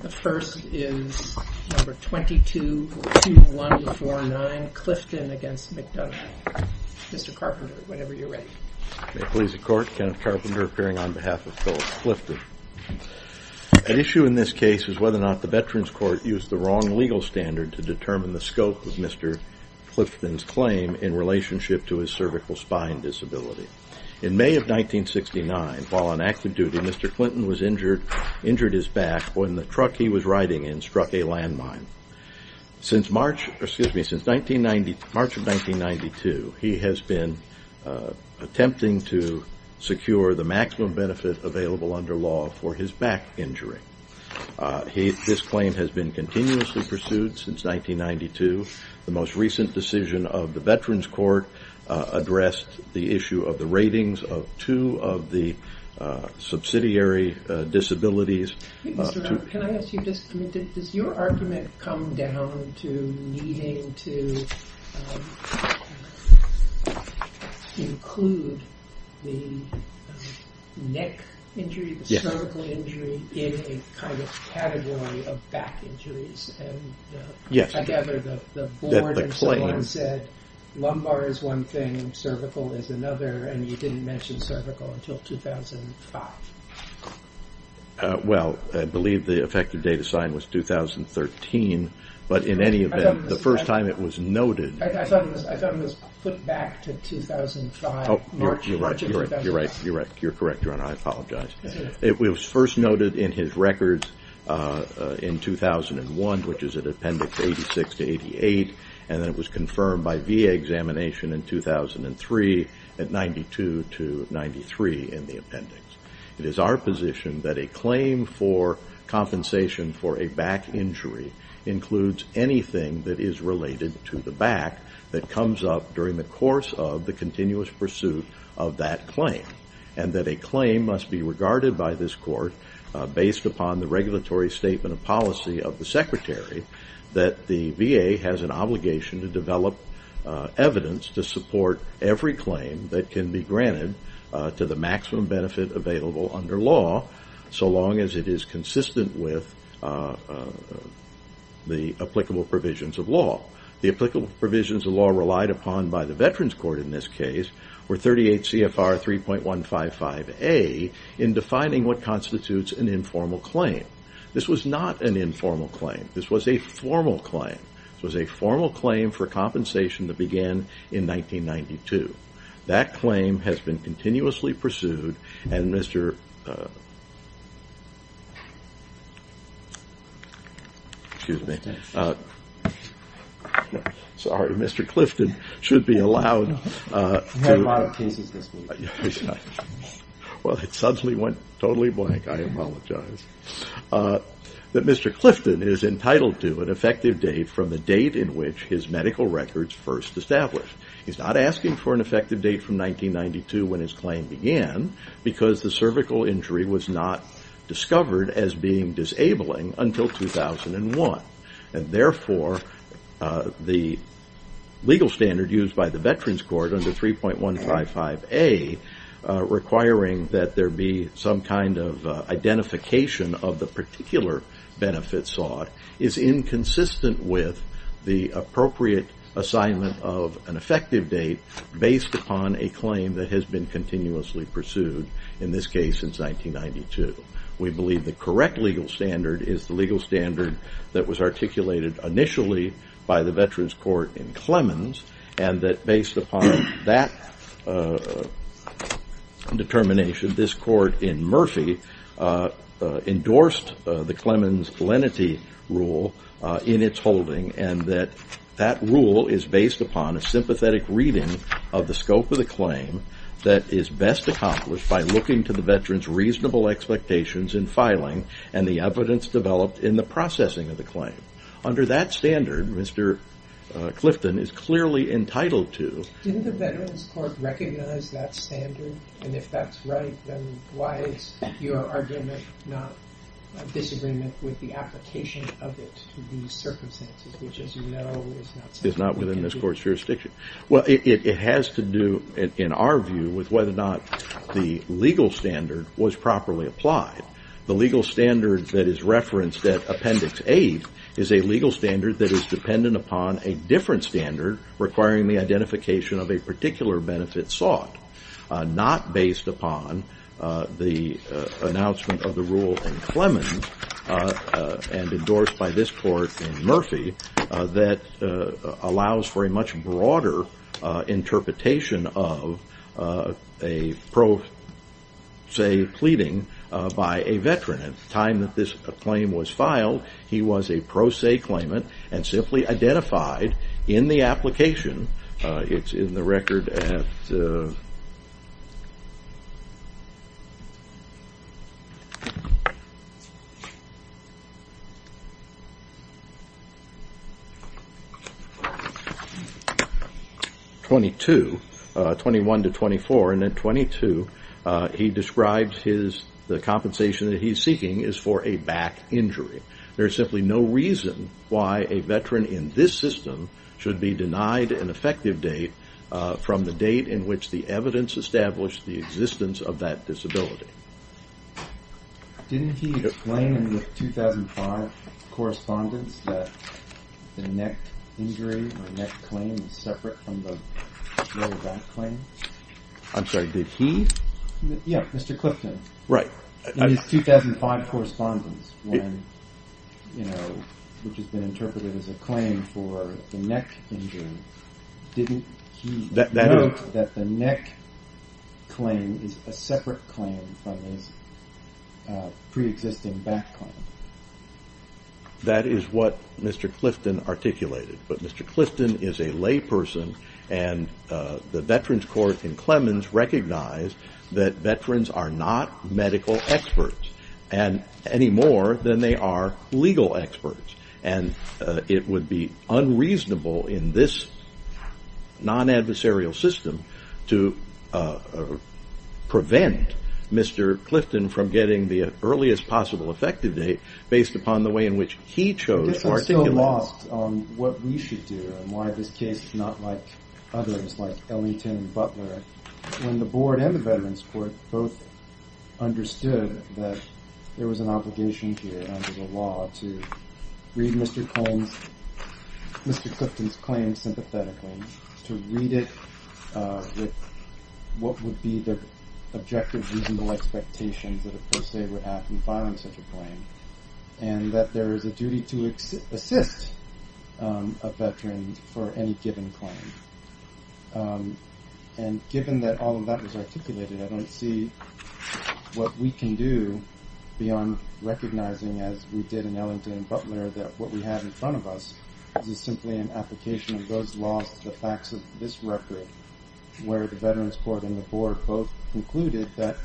The issue in this case is whether or not the Veterans Court used the wrong legal standard to determine the scope of Mr. Clifton's claim in relationship to his cervical spine disability. In May of 1969, while on active duty, Mr. Clinton was injured, injured his back when the truck he was riding in struck a landmine. Since March, excuse me, since 1990, March of 1992, he has been attempting to secure the maximum benefit available under law for his back injury. He, this claim has been continuously pursued since 1992. The most recent decision of the Veterans Court addressed the issue of the ratings of two of the subsidiary disabilities. Does your argument come down to needing to include the neck injury, the cervical injury, in a kind of category of back injuries? Yes. I gather the board and someone said, lumbar is one thing, cervical is another, and you didn't mention cervical until 2005. Well, I believe the effective date of sign was 2013, but in any event, the first time it was noted. I thought it was put back to 2005, March of 2005. You're right, you're right, you're correct. You're right, I apologize. It was first noted in his records in 2001, which is at Appendix 86 to 88, and then it was confirmed by VA examination in 2003 at 92 to 93 in the appendix. It is our position that a claim for compensation for a back injury includes anything that is related to the back that comes up during the course of the continuous pursuit of that claim. And that a claim must be regarded by this court based upon the regulatory statement of policy of the secretary that the VA has an obligation to develop evidence to support every claim that can be granted to the maximum benefit available under law, so long as it is consistent with the applicable provisions of law. The applicable provisions of law relied upon by the Veterans Court in this case were 38 CFR 3.155A in defining what constitutes an informal claim. This was not an informal claim. This was a formal claim. This was a formal claim for compensation that began in 1992. That claim has been continuously pursued, and Mr. Clifton is entitled to an effective date from the date in which his medical records first established. He is not asking for an effective date from 1992 when his claim began because the cervical injury was not discovered as being disabling until 2001. And therefore, the legal standard used by the Veterans Court under 3.155A requiring that there be some kind of identification of the particular benefit sought is inconsistent with the appropriate assignment of an effective date based upon a claim that has been continuously pursued in this case since 1992. We believe the correct legal standard is the legal standard that was articulated initially by the Veterans Court in Clemens and that based upon that determination, this court in Murphy endorsed the Clemens lenity rule in its holding and that that rule is based upon a sympathetic reading of the scope of the claim that is best accomplished by looking to the veteran's reasonable expectations in filing and the evidence developed in the processing of the claim. Under that standard, Mr. Clifton is clearly entitled to... Didn't the Veterans Court recognize that standard? And if that's right, then why is your argument not in disagreement with the application of it to these circumstances, which, as you know, is not something we can do? Well, it has to do, in our view, with whether or not the legal standard was properly applied. The legal standard that is referenced at Appendix A is a legal standard that is dependent upon a different standard requiring the identification of a particular benefit sought, not based upon the announcement of the rule in Clemens and endorsed by this court in Murphy that allows for a much broader interpretation of a pro se pleading by a veteran. At the time that this claim was filed, he was a pro se claimant and simply identified in the application. It's in the record at 22, 21 to 24. And at 22, he describes the compensation that he's seeking is for a back injury. There is simply no reason why a veteran in this system should be denied an effective date from the date in which the evidence established the existence of that disability. Didn't he explain in the 2005 correspondence that the neck injury or neck claim is separate from the back claim? I'm sorry, did he? Yeah, Mr. Clifton. Right. In his 2005 correspondence, which has been interpreted as a claim for the neck injury, didn't he note that the neck claim is a separate claim from his pre-existing back claim? That is what Mr. Clifton articulated. But Mr. Clifton is a lay person, and the Veterans Court in Clemens recognized that veterans are not medical experts any more than they are legal experts. And it would be unreasonable in this non-adversarial system to prevent Mr. Clifton from getting the earliest possible effective date based upon the way in which he chose to articulate it. And why this case is not like others, like Ellington and Butler, when the Board and the Veterans Court both understood that there was an obligation here under the law to read Mr. Clifton's claim sympathetically, to read it with what would be the objective reasonable expectations that it per se would have in filing such a claim, and that there is a duty to assist a veteran for any given claim. And given that all of that was articulated, I don't see what we can do beyond recognizing, as we did in Ellington and Butler, that what we have in front of us is simply an application of those laws to the facts of this record, where the Veterans Court and the Board both concluded that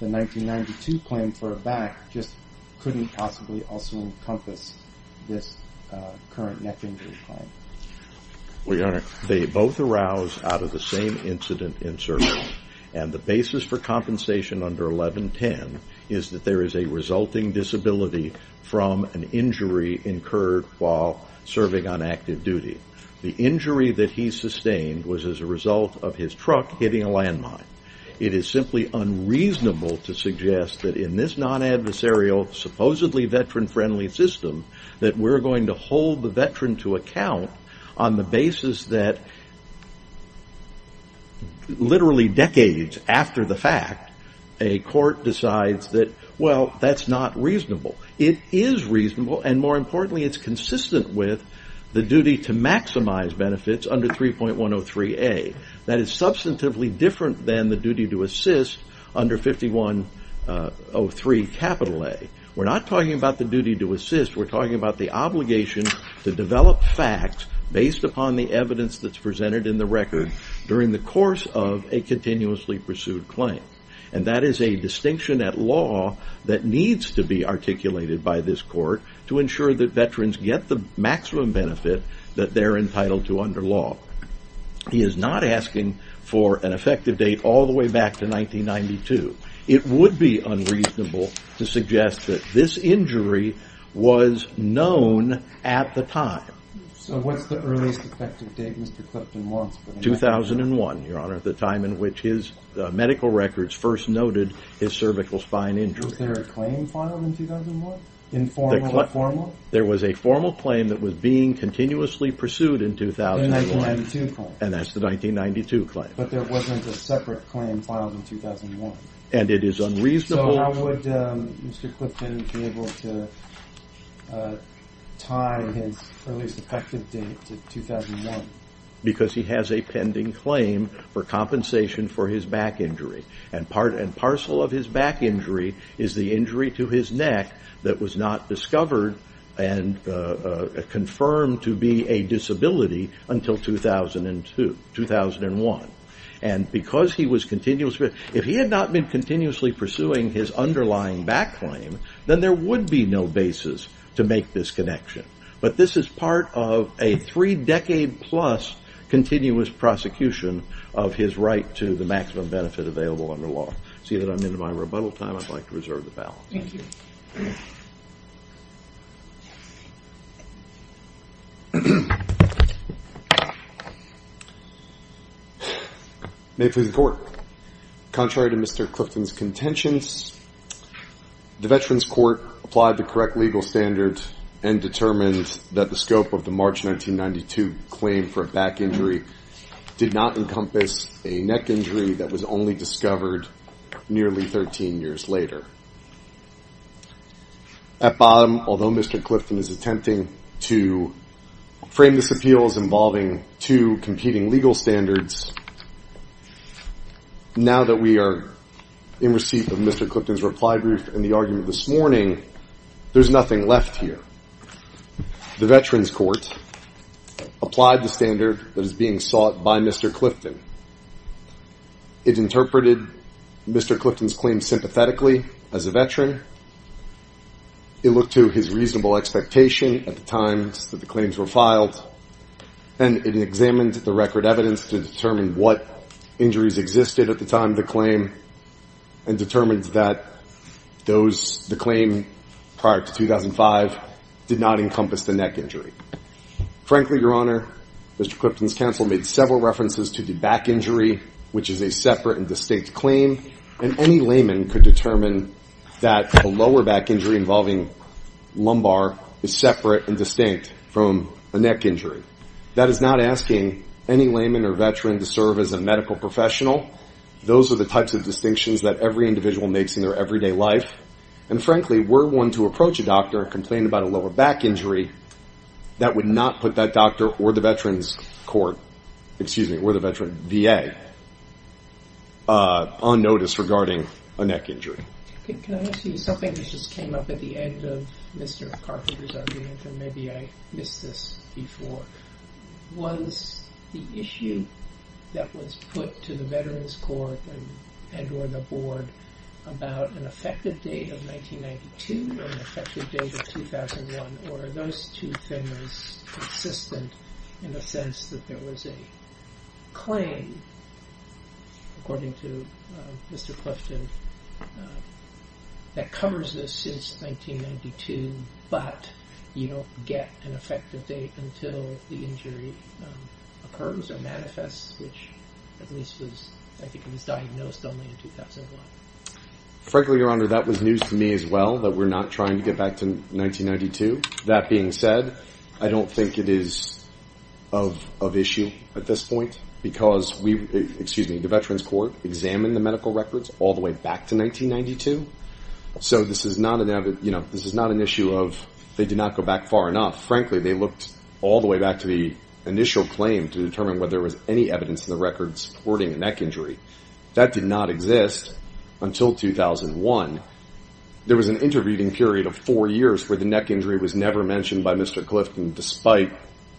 the 1992 claim for a back just couldn't possibly also encompass this current neck injury claim. They both arouse out of the same incident in service, and the basis for compensation under 1110 is that there is a resulting disability from an injury incurred while serving on active duty. The injury that he sustained was as a result of his truck hitting a landmine. It is simply unreasonable to suggest that in this non-adversarial, supposedly veteran-friendly system, that we're going to hold the veteran to account on the basis that literally decades after the fact, a court decides that, well, that's not reasonable. It is reasonable, and more importantly, it's consistent with the duty to maximize benefits under 3.103A. That is substantively different than the duty to assist under 5.103A. We're not talking about the duty to assist. We're talking about the obligation to develop facts based upon the evidence that's presented in the record during the course of a continuously pursued claim, and that is a distinction at law that needs to be articulated by this court to ensure that veterans get the maximum benefit that they're entitled to under law. He is not asking for an effective date all the way back to 1992. It would be unreasonable to suggest that this injury was known at the time. So what's the earliest effective date Mr. Clifton wants? 2001, Your Honor, the time in which his medical records first noted his cervical spine injury. Was there a claim filed in 2001, informal or formal? There was a formal claim that was being continuously pursued in 2001. And that's the 1992 claim. But there wasn't a separate claim filed in 2001. And it is unreasonable. So how would Mr. Clifton be able to time his earliest effective date to 2001? Because he has a pending claim for compensation for his back injury, and parcel of his back injury is the injury to his neck that was not discovered and confirmed to be a disability until 2001. And because he was continuously pursuing his underlying back claim, then there would be no basis to make this connection. But this is part of a three-decade-plus continuous prosecution of his right to the maximum benefit available under law. Seeing that I'm into my rebuttal time, I'd like to reserve the balance. Thank you. May it please the Court. Contrary to Mr. Clifton's contentions, the Veterans Court applied the correct legal standard and determined that the scope of the March 1992 claim for a back injury did not encompass a neck injury that was only discovered nearly 13 years later. At bottom, although Mr. Clifton is attempting to frame this appeal as involving two competing legal standards, now that we are in receipt of Mr. Clifton's reply brief and the argument this morning, there's nothing left here. The Veterans Court applied the standard that is being sought by Mr. Clifton. It interpreted Mr. Clifton's claim sympathetically as a veteran. It looked to his reasonable expectation at the time that the claims were filed, and it examined the record evidence to determine what injuries existed at the time of the claim and determined that the claim prior to 2005 did not encompass the neck injury. Frankly, Your Honor, Mr. Clifton's counsel made several references to the back injury, which is a separate and distinct claim, and any layman could determine that a lower back injury involving lumbar is separate and distinct from a neck injury. That is not asking any layman or veteran to serve as a medical professional. Those are the types of distinctions that every individual makes in their everyday life. And frankly, were one to approach a doctor and complain about a lower back injury, that would not put that doctor or the Veterans Court, excuse me, or the Veteran VA on notice regarding a neck injury. Can I ask you something that just came up at the end of Mr. Carpenter's argument, and maybe I missed this before? Was the issue that was put to the Veterans Court and or the board about an effective date of 1992 and an effective date of 2001, or are those two things consistent in the sense that there was a claim, according to Mr. Clifton, that covers this since 1992, but you don't get an effective date until the injury occurs or manifests, which at least I think was diagnosed only in 2001. Frankly, Your Honor, that was news to me as well, that we're not trying to get back to 1992. That being said, I don't think it is of issue at this point, because the Veterans Court examined the medical records all the way back to 1992, so this is not an issue of they did not go back far enough. Frankly, they looked all the way back to the initial claim to determine whether there was any evidence in the records supporting a neck injury. That did not exist until 2001. There was an intervening period of four years where the neck injury was never mentioned by Mr. Clifton, despite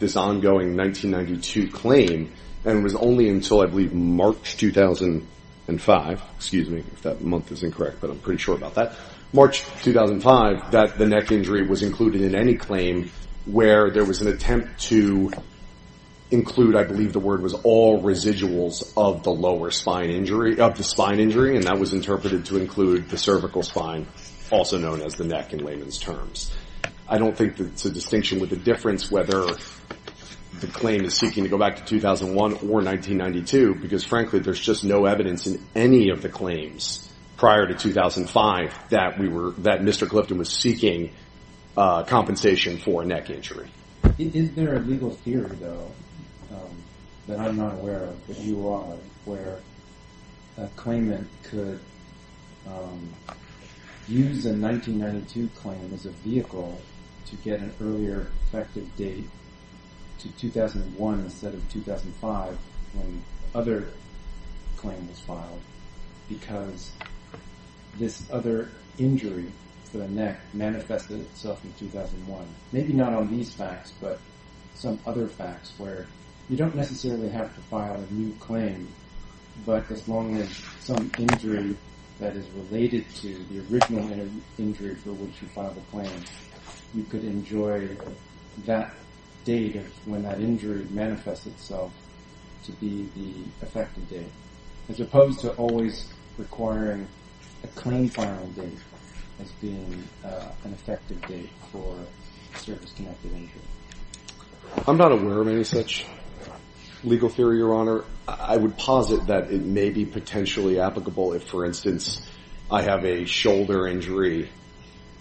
this ongoing 1992 claim, and it was only until, I believe, March 2005. Excuse me if that month is incorrect, but I'm pretty sure about that. March 2005 that the neck injury was included in any claim where there was an attempt to include, I believe the word was, all residuals of the lower spine injury, of the spine injury, and that was interpreted to include the cervical spine, also known as the neck in layman's terms. I don't think that it's a distinction with a difference whether the claim is seeking to go back to 2001 or 1992, because, frankly, there's just no evidence in any of the claims prior to 2005 that Mr. Clifton was seeking compensation for a neck injury. Is there a legal theory, though, that I'm not aware of, that you are, where a claimant could use a 1992 claim as a vehicle to get an earlier effective date to 2001 instead of 2005 when the other claim was filed because this other injury to the neck manifested itself in 2001? Maybe not on these facts, but some other facts where you don't necessarily have to file a new claim, but as long as some injury that is related to the original injury for which you filed the claim, you could enjoy that date when that injury manifests itself to be the effective date, as opposed to always requiring a claim filing date as being an effective date for a service-connected injury. I'm not aware of any such legal theory, Your Honor. Your Honor, I would posit that it may be potentially applicable if, for instance, I have a shoulder injury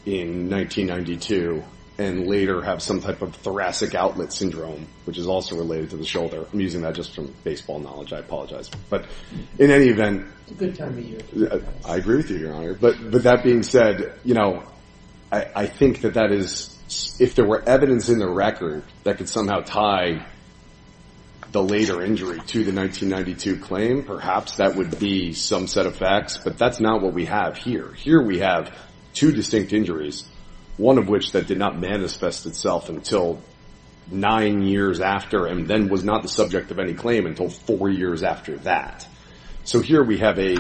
in 1992 and later have some type of thoracic outlet syndrome, which is also related to the shoulder. I'm using that just from baseball knowledge. I apologize. But in any event, I agree with you, Your Honor. But that being said, you know, I think that that is, if there were evidence in the record that could somehow tie the later injury to the 1992 claim, perhaps that would be some set of facts, but that's not what we have here. Here we have two distinct injuries, one of which that did not manifest itself until nine years after and then was not the subject of any claim until four years after that. So here we have a,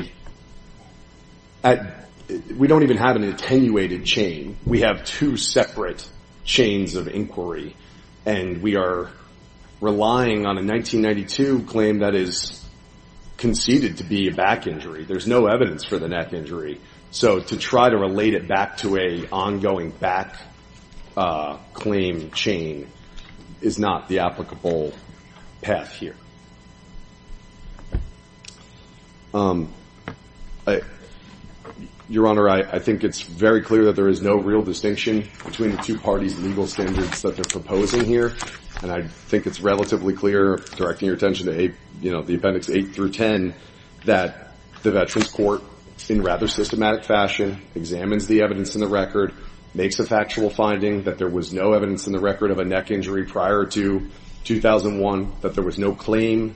we don't even have an attenuated chain. We have two separate chains of inquiry, and we are relying on a 1992 claim that is conceded to be a back injury. There's no evidence for the neck injury. So to try to relate it back to an ongoing back claim chain is not the applicable path here. Your Honor, I think it's very clear that there is no real distinction between the two parties' legal standards that they're proposing here, and I think it's relatively clear, directing your attention to the Appendix 8 through 10, that the Veterans Court, in rather systematic fashion, examines the evidence in the record, makes a factual finding that there was no evidence in the record of a neck injury prior to 2001, that there was no claim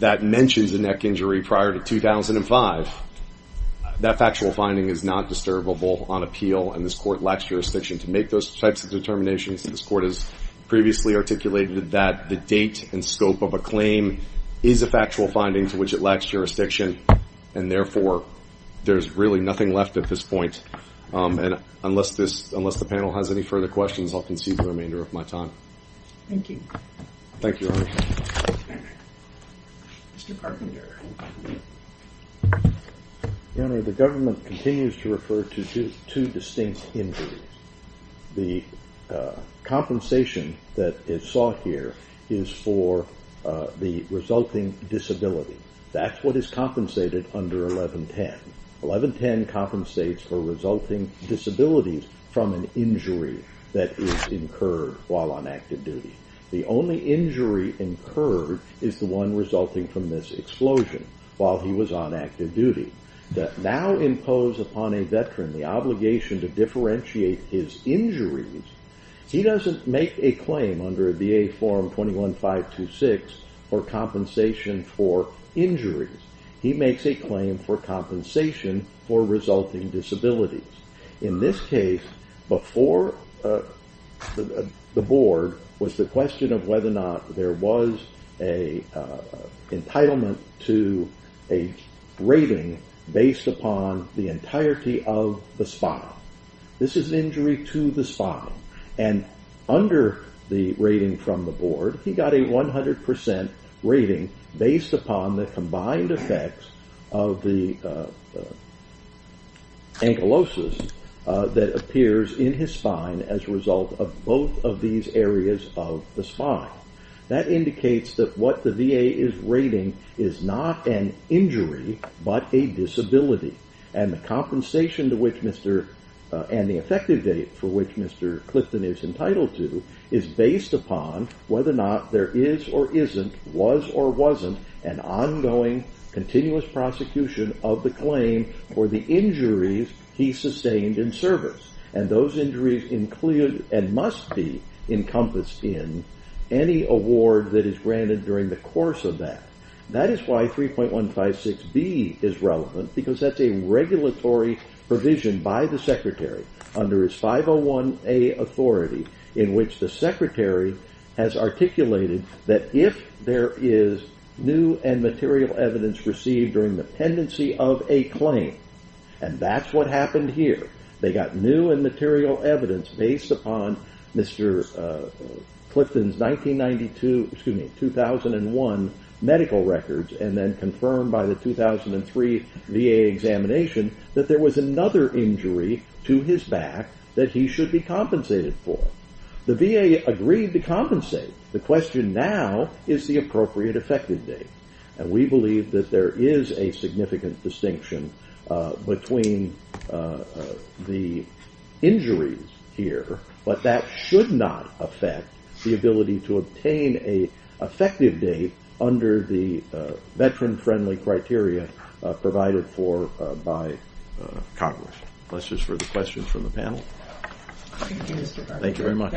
that mentions a neck injury prior to 2005. That factual finding is not disturbable on appeal, and this Court lacks jurisdiction to make those types of determinations. This Court has previously articulated that the date and scope of a claim is a factual finding to which it lacks jurisdiction, and therefore there's really nothing left at this point. Unless the panel has any further questions, I'll concede the remainder of my time. Thank you. Thank you, Your Honor. Mr. Carpenter. Your Honor, the government continues to refer to two distinct injuries. The compensation that is sought here is for the resulting disability. That's what is compensated under 1110. 1110 compensates for resulting disabilities from an injury that is incurred while on active duty. The only injury incurred is the one resulting from this explosion while he was on active duty. That now imposes upon a veteran the obligation to differentiate his injuries. He doesn't make a claim under VA Form 21-526 for compensation for injuries. He makes a claim for compensation for resulting disabilities. In this case, before the board was the question of whether or not there was an entitlement to a rating based upon the entirety of the spine. This is injury to the spine. Under the rating from the board, he got a 100% rating based upon the combined effects of the ankylosis that appears in his spine as a result of both of these areas of the spine. That indicates that what the VA is rating is not an injury but a disability. The compensation and the effective date for which Mr. Clifton is entitled to is based upon whether or not there is or isn't, was or wasn't, an ongoing continuous prosecution of the claim for the injuries he sustained in service. Those injuries include and must be encompassed in any award that is granted during the course of that. That is why 3.156B is relevant because that's a regulatory provision by the secretary under his 501A authority in which the secretary has articulated that if there is new and material evidence received during the pendency of a claim, and that's what happened here. They got new and material evidence based upon Mr. Clifton's 1991 medical records and then confirmed by the 2003 VA examination that there was another injury to his back that he should be compensated for. The VA agreed to compensate. The question now is the appropriate effective date. We believe that there is a significant distinction between the injuries here, but that should not affect the ability to obtain an effective date under the veteran-friendly criteria provided for by Congress. That's it for the questions from the panel. Thank you very much.